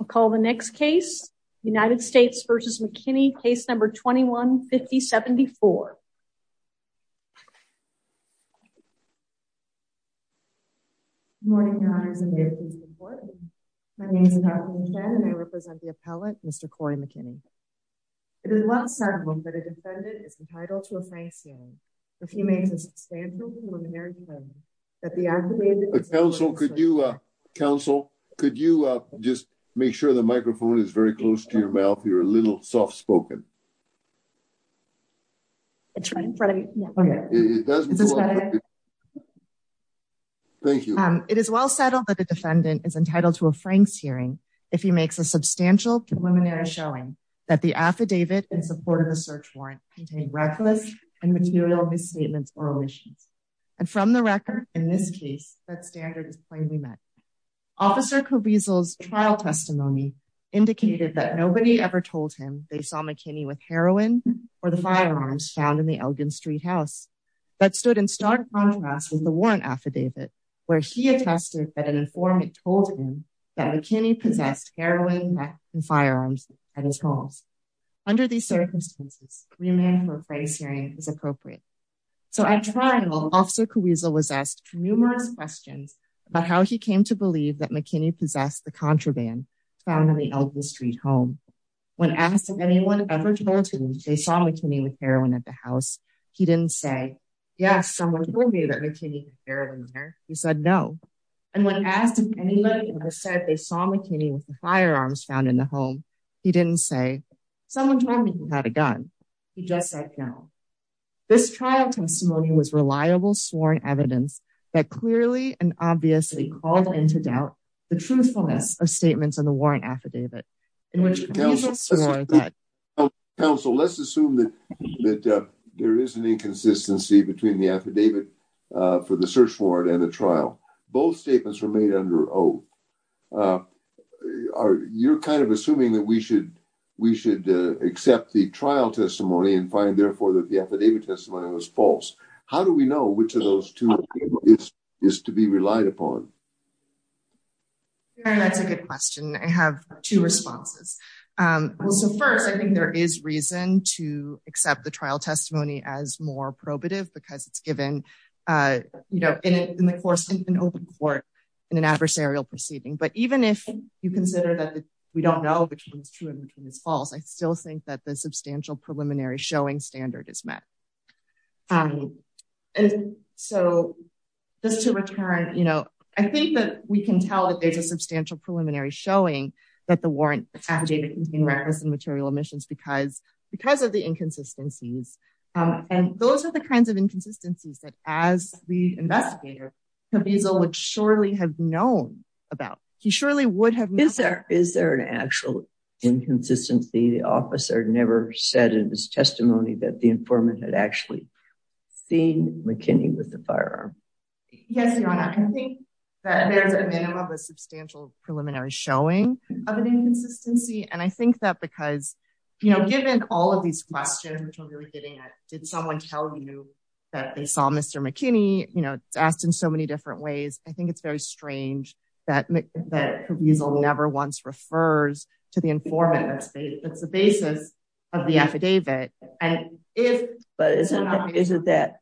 I'll call the next case United States v. McKinney, case number 21-50-74. Good morning, your honors, and may it please the court. My name is Kathleen Chen and I represent the appellate, Mr. Corey McKinney. It is well settled that a defendant is entitled to a It is well settled that the defendant is entitled to a Franks hearing if he makes a substantial preliminary showing that the affidavit in support of the search warrant contained reckless and material misstatements or omissions. And from the record, in this case, that standard is plainly met. Officer Caruso's trial testimony indicated that nobody ever told him they saw McKinney with heroin or the firearms found in the Elgin Street house. That stood in stark contrast with the warrant affidavit, where he attested that an informant told him that McKinney possessed heroin, meth, and firearms at his home. Under these circumstances, remand for a Franks hearing is appropriate. So at trial, Officer Caruso was asked numerous questions about how he came to believe that McKinney possessed the contraband found in the Elgin Street home. When asked if anyone ever told him they saw McKinney with heroin at the house, he didn't say, yes, someone told me that McKinney had heroin there. He said no. And when asked if anybody ever said they saw McKinney with the firearms found in the home, he didn't say, someone told me he had a gun. He just said no. This trial testimony was reliable, sworn evidence that clearly and obviously called into doubt the truthfulness of statements in the warrant affidavit. In which, Counsel, let's assume that there is an inconsistency between the affidavit for the search warrant and the trial. Both statements were made under oath. You're kind of assuming that we should accept the trial testimony and find, therefore, that the affidavit testimony was false. How do we know which of those two is to be relied upon? That's a good question. I have two responses. So first, I think there is reason to accept the trial testimony as more probative because it's even if you consider that we don't know which one is true and which one is false, I still think that the substantial preliminary showing standard is met. So just to return, I think that we can tell that there's a substantial preliminary showing that the warrant affidavit contained reckless and material omissions because of the inconsistencies. And those are the kinds of inconsistencies that as the investigator, Cabezal would surely have known about. He surely would have known. Is there an actual inconsistency? The officer never said in his testimony that the informant had actually seen McKinney with the firearm. Yes, Your Honor. I think that there's a minimum of a substantial preliminary showing of an inconsistency. And I think that because given all of these questions, which we're really getting at, did someone tell you that they saw Mr. McKinney? It's asked in so many different ways. I think it's very strange that Cabezal never once refers to the informant. It's the basis of the affidavit. But isn't that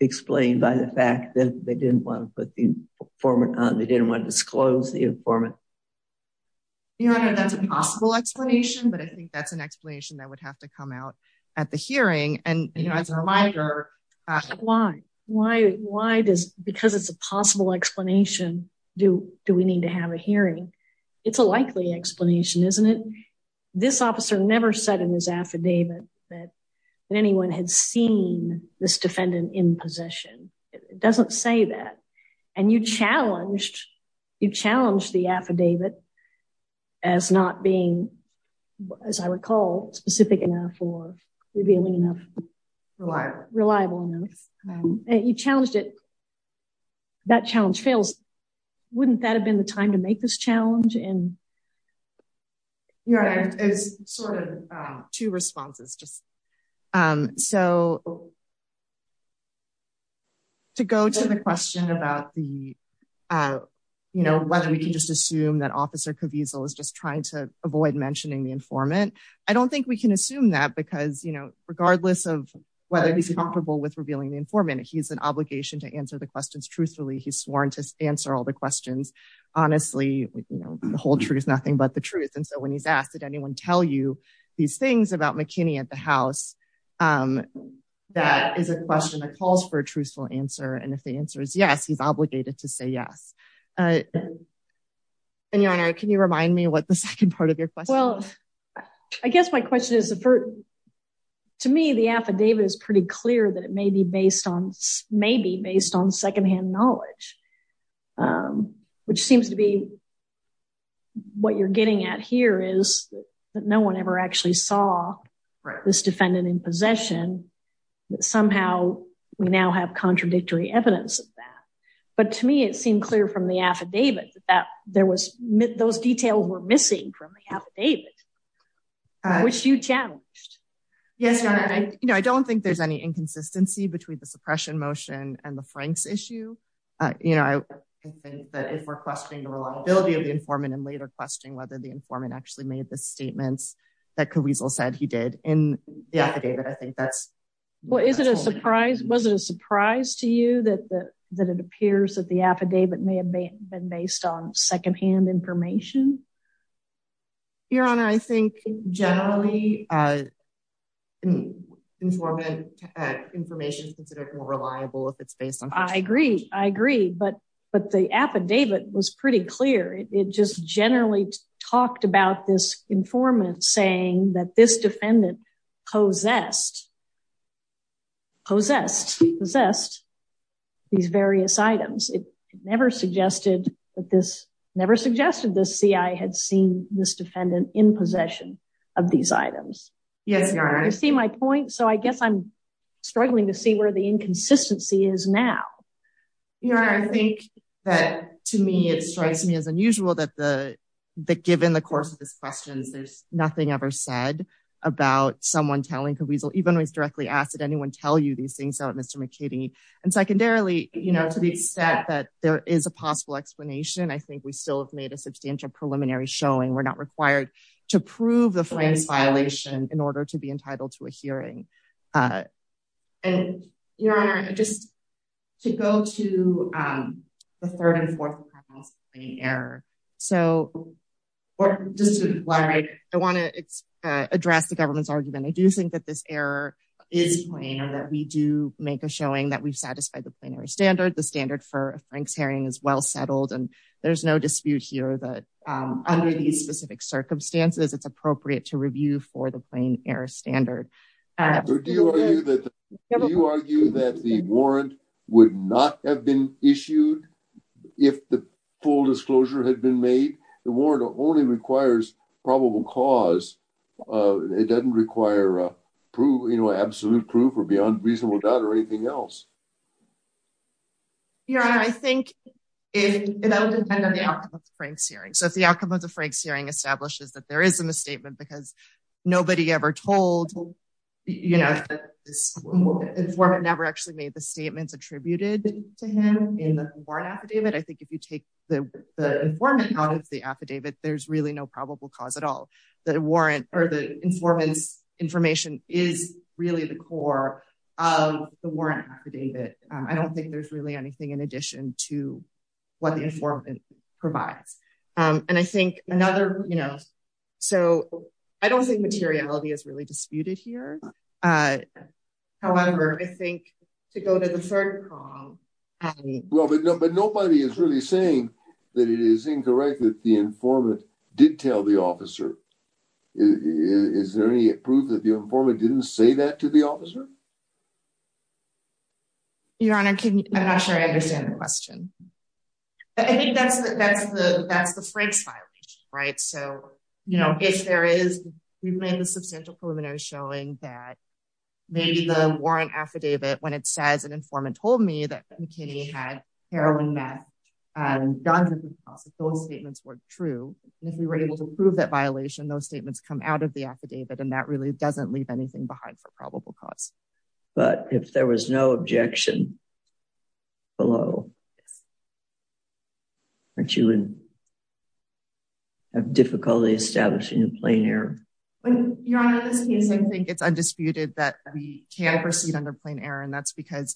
explained by the fact that they didn't want to put the informant on? They didn't want to disclose the informant? Your Honor, that's a possible explanation, but I think that's an explanation that would have to come out at the hearing. And do we need to have a hearing? It's a likely explanation, isn't it? This officer never said in his affidavit that anyone had seen this defendant in possession. It doesn't say that. And you challenged the affidavit as not being, as I recall, specific enough or revealing enough. Reliable enough. You challenged it. That challenge fails. Wouldn't that have been the time to make this challenge? Your Honor, I have sort of two responses. So to go to the question about whether we can just assume that Officer Cabezal is just trying to avoid mentioning the informant. I don't think we can assume that because regardless of whether he's comfortable with revealing the informant, he has an obligation to answer the questions truthfully. He's sworn to answer all the questions honestly. The whole truth is nothing but the truth. And so when he's asked, did anyone tell you these things about McKinney at the house, that is a question that calls for a truthful answer. And if the answer is yes, he's obligated to say yes. And Your Honor, can you remind me what the second part of your question is? I guess my question is, to me, the affidavit is pretty clear that it may be based on secondhand knowledge, which seems to be what you're getting at here is that no one ever actually saw this defendant in possession. Somehow we now have contradictory evidence of that. But to me, it seemed clear from the affidavit that those details were missing from the affidavit. Which you challenged. Yes, Your Honor. I don't think there's any inconsistency between the suppression motion and the Frank's issue. I think that if we're questioning the reliability of the informant and later questioning whether the informant actually made the statements that Caruso said he did in the affidavit, I think that's... Well, is it a surprise? Was it a surprise to you that it appears that the affidavit may have been based on secondhand information? Your Honor, I think generally, informant information is considered more reliable if it's based on... I agree. I agree. But the affidavit was pretty clear. It just generally talked about this informant saying that this defendant possessed, possessed, possessed these various items. It never suggested that this, never suggested the CI had seen this defendant in possession of these items. Yes, Your Honor. You see my point? So I guess I'm struggling to see where the inconsistency is now. Your Honor, I think that to me, it strikes me as unusual that given the course of these questions, there's nothing ever said about someone telling Caruso, even when he's directly asked, did anyone tell you these things about Mr. McKinney? And secondarily, to the extent that there is a substantial preliminary showing, we're not required to prove the Frank's violation in order to be entitled to a hearing. And Your Honor, just to go to the third and fourth error. So just to elaborate, I want to address the government's argument. I do think that this error is plain and that we do make a showing that we've satisfied the plenary standard. The standard for Frank's hearing is well-settled and there's no dispute here that under these specific circumstances, it's appropriate to review for the plain error standard. Do you argue that the warrant would not have been issued if the full disclosure had been made? The warrant only requires probable cause. It doesn't require a proof, you know, absolute proof or beyond reasonable doubt or anything else. Your Honor, I think that would depend on the outcome of the Frank's hearing. So if the outcome of the Frank's hearing establishes that there isn't a statement because nobody ever told, you know, the informant never actually made the statements attributed to him in the warrant affidavit, I think if you take the informant out of the affidavit, there's really no probable cause at all. The warrant or the informant's information is really the core of the warrant affidavit. I don't think there's really anything in addition to what the informant provides. And I think another, you know, so I don't think materiality is really disputed here. However, I think to go to the third column, I mean... Well, but nobody is really saying that it is incorrect that the informant did tell the officer. Is there any proof that the informant didn't say that to the officer? Your Honor, I'm not sure I understand the question. I think that's the Frank's violation, right? So, you know, if there is, we've made the substantial preliminary showing that maybe the warrant affidavit, when it says an informant told me that McKinney had heroin meth, those statements weren't true. And if we were able to prove that violation, those statements come out of the affidavit. And that really doesn't leave anything behind for probable cause. But if there was no objection below, you would have difficulty establishing a plain error. Your Honor, in this case, I think it's undisputed that we can proceed under plain error. And that's you can't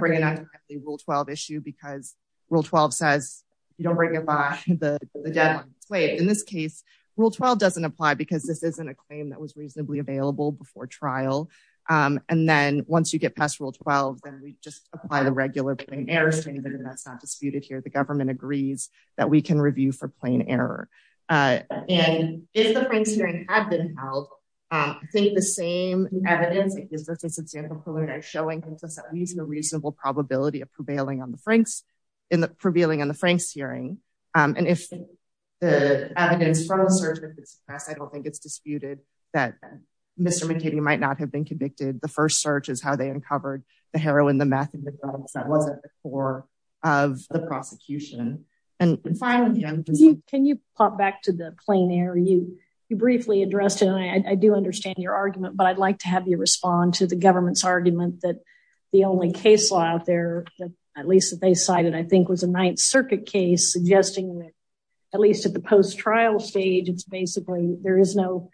bring it on to the Rule 12 issue because Rule 12 says you don't bring it by the deadline. In this case, Rule 12 doesn't apply because this isn't a claim that was reasonably available before trial. And then once you get past Rule 12, then we just apply the regular plain errors statement. And that's not disputed here. The government agrees that we can review for plain error. And if the Frank's hearing had been held, I think the same evidence, for example, showing at least a reasonable probability of prevailing on the Frank's in the prevailing on the Frank's hearing. And if the evidence from the search that's passed, I don't think it's disputed that Mr. McKinney might not have been convicted. The first search is how they uncovered the heroin, the meth, and the drugs that was at the core of the prosecution. And finally... Can you pop back to the plain error? You briefly addressed it. And I do understand your argument, but I'd like to have you respond to the government's argument that the only case law out there, at least that they cited, I think was a Ninth Circuit case suggesting that at least at the post-trial stage, it's basically there is no...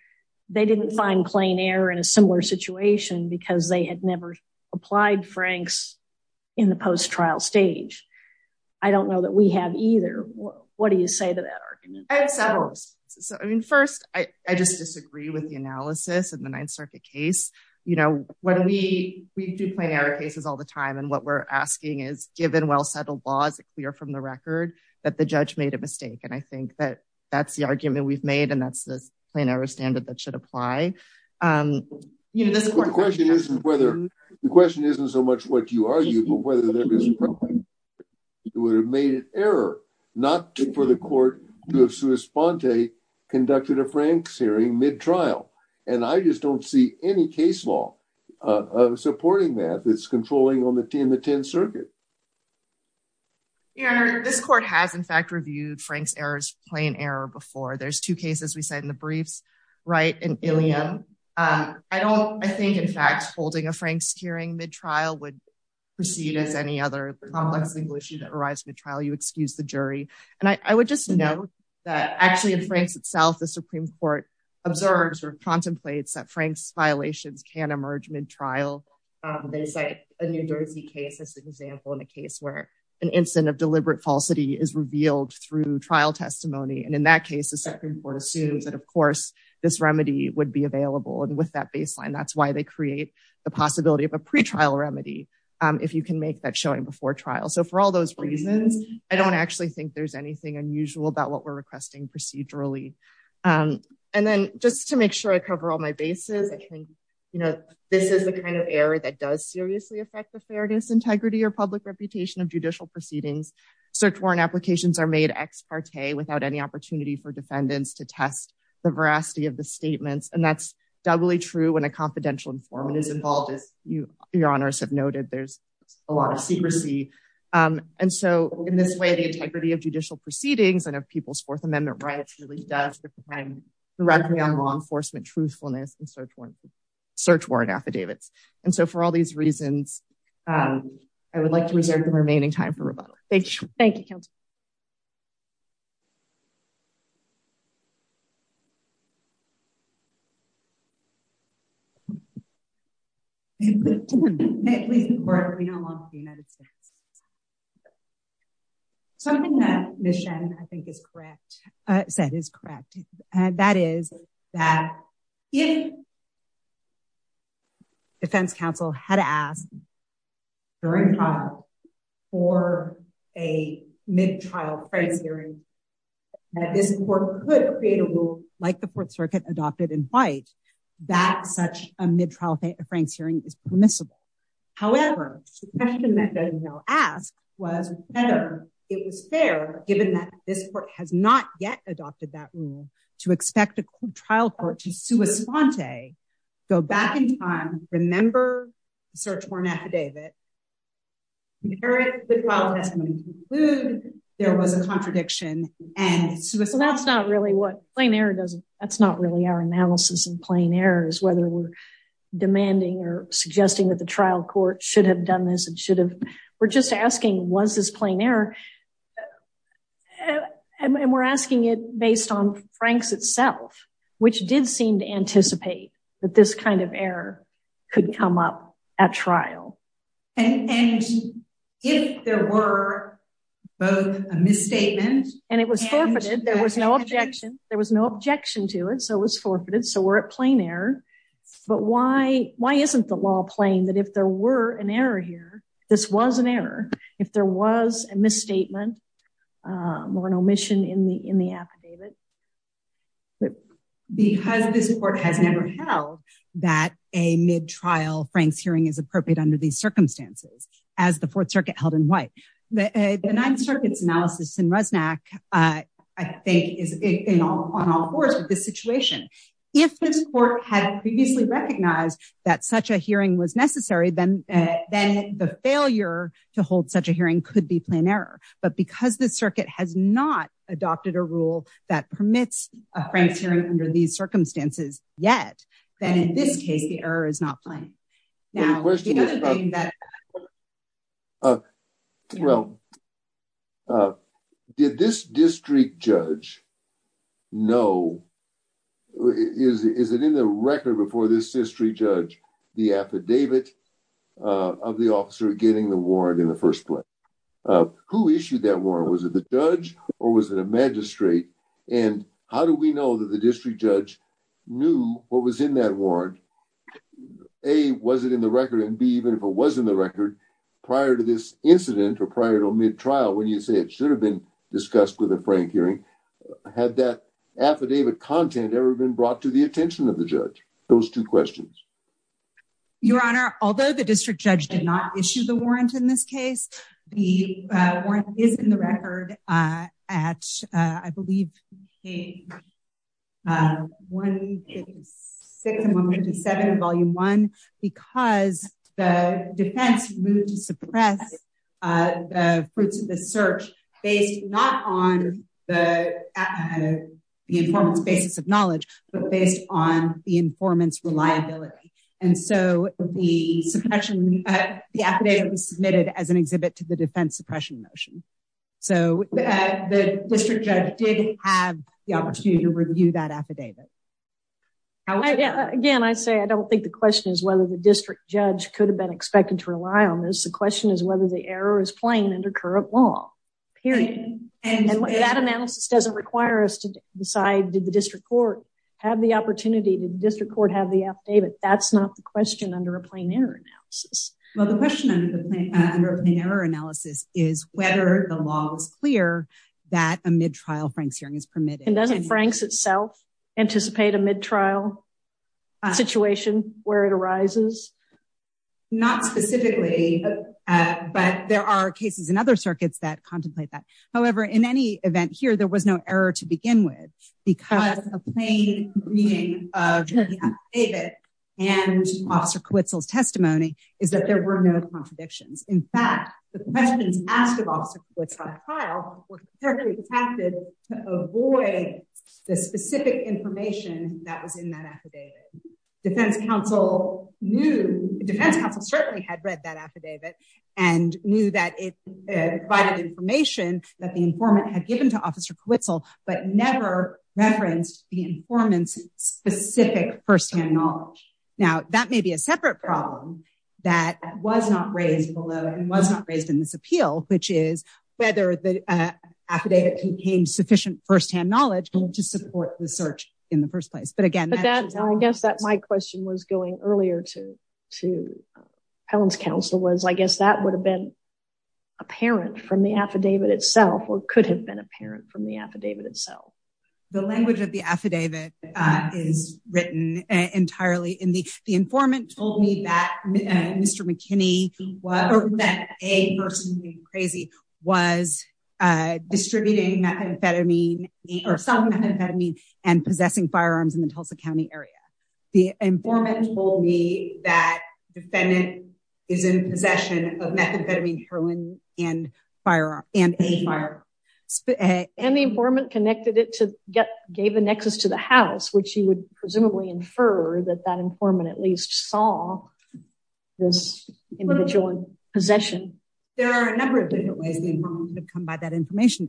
They didn't find plain error in a similar situation because they had never applied Frank's in the post-trial stage. I don't know that we have either. What do you say to that argument? I have several. First, I just disagree with the analysis of the Ninth Circuit case. We do plain error cases all the time. And what we're asking is, given well-settled laws clear from the record, that the judge made a mistake. And I think that that's the argument we've made, and that's the plain error standard that should apply. The question isn't so much what you argue, but whether there is a problem. It would have made an error not for the court to have sui sponte conducted a Frank's hearing mid-trial. And I just don't see any case law supporting that that's controlling in the Tenth Circuit. Your Honor, this court has, in fact, reviewed Frank's error as plain error before. There's two cases we cite in the briefs, Wright and Illion. I think, in fact, holding a Frank's hearing mid-trial would proceed as any other complex legal issue that arrives mid-trial. You excuse the jury. And I would just note that, actually, in Frank's itself, the Supreme Court observes or contemplates that Frank's violations can emerge mid-trial. They cite a New Jersey case as an example in a case where an incident of deliberate falsity is revealed through trial testimony. And in that case, the Supreme Court assumes that, of course, this remedy would be pre-trial remedy if you can make that showing before trial. So for all those reasons, I don't actually think there's anything unusual about what we're requesting procedurally. And then just to make sure I cover all my bases, I think this is the kind of error that does seriously affect the fairness, integrity, or public reputation of judicial proceedings. Search warrant applications are made ex parte without any opportunity for defendants to test the veracity of the statements. And that's doubly true when a confidential informant is involved. As your honors have noted, there's a lot of secrecy. And so in this way, the integrity of judicial proceedings and of people's Fourth Amendment rights really does depend directly on law enforcement truthfulness and search warrant affidavits. And so for all these reasons, I would like to reserve the opportunity for questions. May it please the court, we don't want the United States. Something that Ms. Shen, I think is correct, said is correct. That is that if defense counsel had asked during trial for a mid-trial price hearing, that this court could create a rule like the Fourth Circuit adopted in white, that such a mid-trial Frank's hearing is permissible. However, the question that doesn't know asked was whether it was fair, given that this court has not yet adopted that rule to expect a trial court to sui sponte, go back in time, remember, search warrant affidavit. There was a contradiction. And so that's not really what plain error does. That's not really our analysis in plain errors, whether we're demanding or suggesting that the trial court should have done this and should have. We're just asking, was this plain error? And we're asking it based on Frank's itself, which did seem to anticipate that this kind of error could come up at trial. And if there were both a misstatement and it was forfeited, there was no objection, there was no objection to it. So it was forfeited. So we're at plain error. But why, why isn't the law playing that if there were an error here, this was an error, if there was a misstatement or an omission in the, in the affidavit. But because this court has never held that a mid-trial Frank's hearing is appropriate under these circumstances, as the fourth circuit held in white, the ninth circuit's analysis in Resnack, I think, is on all fours with this situation. If this court had previously recognized that such a hearing was necessary, then the failure to hold such a hearing could be plain error. But because the circuit has not adopted a rule that permits a Frank's hearing under these circumstances yet, then in this case, the error is not plain. Now, the other thing that. Well, did this district judge know, is it in the record before this history judge, the affidavit of the officer getting the warrant in the first place? Who issued that warrant? Was it the judge or was it a magistrate? And how do we know that the district judge knew what was in that warrant? A, was it in the record? And B, even if it was in the record prior to this incident or prior to mid-trial, when you say it should have been discussed with a Frank hearing, had that affidavit content ever been brought to the court? Your honor, although the district judge did not issue the warrant in this case, the warrant is in the record at, I believe, 156 and 157 of volume one, because the defense moved to suppress the fruits of the search based not on the informant's basis of knowledge, but based on the informant's reliability. And so the suppression, the affidavit was submitted as an exhibit to the defense suppression motion. So the district judge did have the opportunity to review that affidavit. Again, I say, I don't think the question is whether the district judge could have been expected to rely on this. The question is whether the error is plain under period. And that analysis doesn't require us to decide, did the district court have the opportunity? Did the district court have the affidavit? That's not the question under a plain error analysis. Well, the question under a plain error analysis is whether the law is clear that a mid-trial Frank's hearing is permitted. And doesn't Frank's itself anticipate a mid-trial situation where it arises? Not specifically, but there are cases in other circuits that contemplate that. However, in any event here, there was no error to begin with because a plain reading of the affidavit and officer Quitzel's testimony is that there were no contradictions. In fact, the questions asked of officer Quitzel in the trial were perfectly correct. Defense counsel certainly had read that affidavit and knew that it provided information that the informant had given to officer Quitzel, but never referenced the informant's specific firsthand knowledge. Now that may be a separate problem that was not raised below and was not raised in this appeal, which is whether the affidavit contained sufficient firsthand knowledge to support the search in the first place. But again, I guess that my question was going earlier to Helen's counsel was, I guess that would have been apparent from the affidavit itself, or could have been apparent from the affidavit itself. The language of the affidavit is written entirely in the, the informant told me that Mr. McKinney or that a person being crazy was distributing methamphetamine or some methamphetamine and possessing firearms in the Tulsa County area. The informant told me that defendant is in possession of methamphetamine heroin and firearm and a firearm. And the informant connected it to get gave the nexus to the house, which he would presumably infer that that informant at least saw this individual possession. There are a number of different ways that come by that information.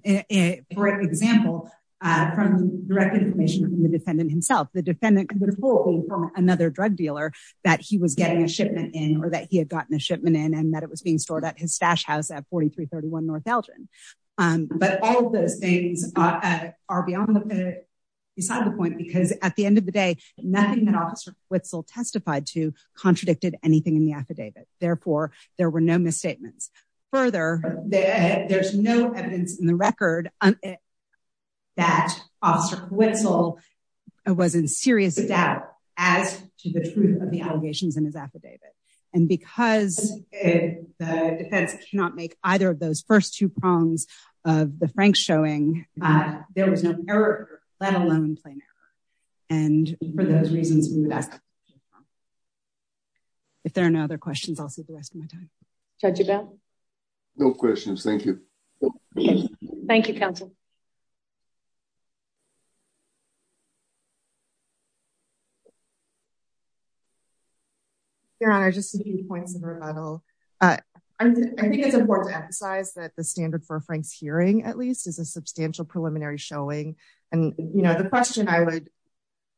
For example, from direct information from the defendant himself, the defendant could have pulled from another drug dealer that he was getting a shipment in or that he had gotten a shipment in and that it was being stored at his stash house at 4331 North Elgin. But all of those things are beyond beside the point because at the end of the day, nothing that officer Whitsell testified to there were no misstatements. Further, there's no evidence in the record that officer Whitsell was in serious doubt as to the truth of the allegations in his affidavit. And because the defense cannot make either of those first two prongs of the Frank showing, there was no error, let alone plain error. And for those reasons, if there are no other questions, I'll see the rest of my time. Judge about no questions. Thank you. Thank you, counsel. Your honor, just points of rebuttal. I think it's important to emphasize that the standard for Frank's hearing at least is a substantial preliminary showing. And you know, the question I would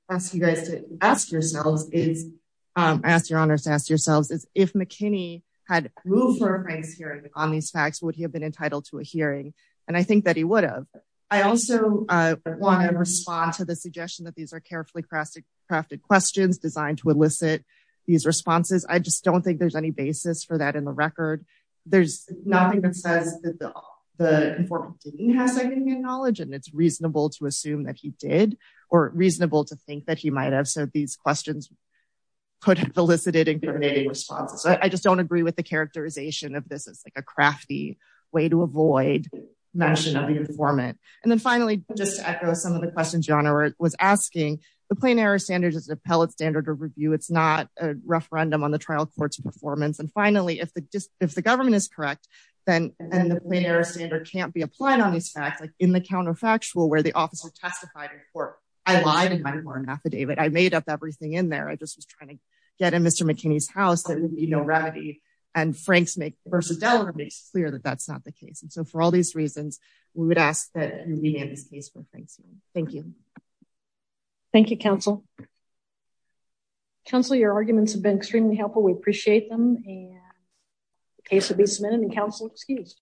ask you guys to ask yourselves is, ask your honors to ask yourselves is if McKinney had moved for a Frank's hearing on these facts, would he have been entitled to a hearing? And I think that he would have. I also want to respond to the suggestion that these are carefully crafted, crafted questions designed to elicit these responses. I just don't think there's any basis for that in the record. There's nothing that says that the informant didn't have significant knowledge and it's reasonable to assume that he did or reasonable to think that he might have. So these questions could have elicited incriminating responses. I just don't agree with the characterization of this as like a crafty way to avoid mention of the informant. And then finally, just to echo some of the questions your honor was asking, the plain error standard is an appellate standard of review. It's not a referendum on the trial court's performance. And finally, if the government is correct, then the plain error standard can't be applied on these facts, like in the counterfactual where the officer testified in court. I lied in my court affidavit. I made up everything in there. I just was trying to get in Mr. McKinney's house. There would be no remedy. And Frank's make versus Delaware makes clear that that's not the case. And so for all these reasons, we would ask that we have this case for Frank's hearing. Thank you. Thank you, counsel. Counsel, your arguments have been extremely helpful. We appreciate them. And the case will be submitted and counsel excused.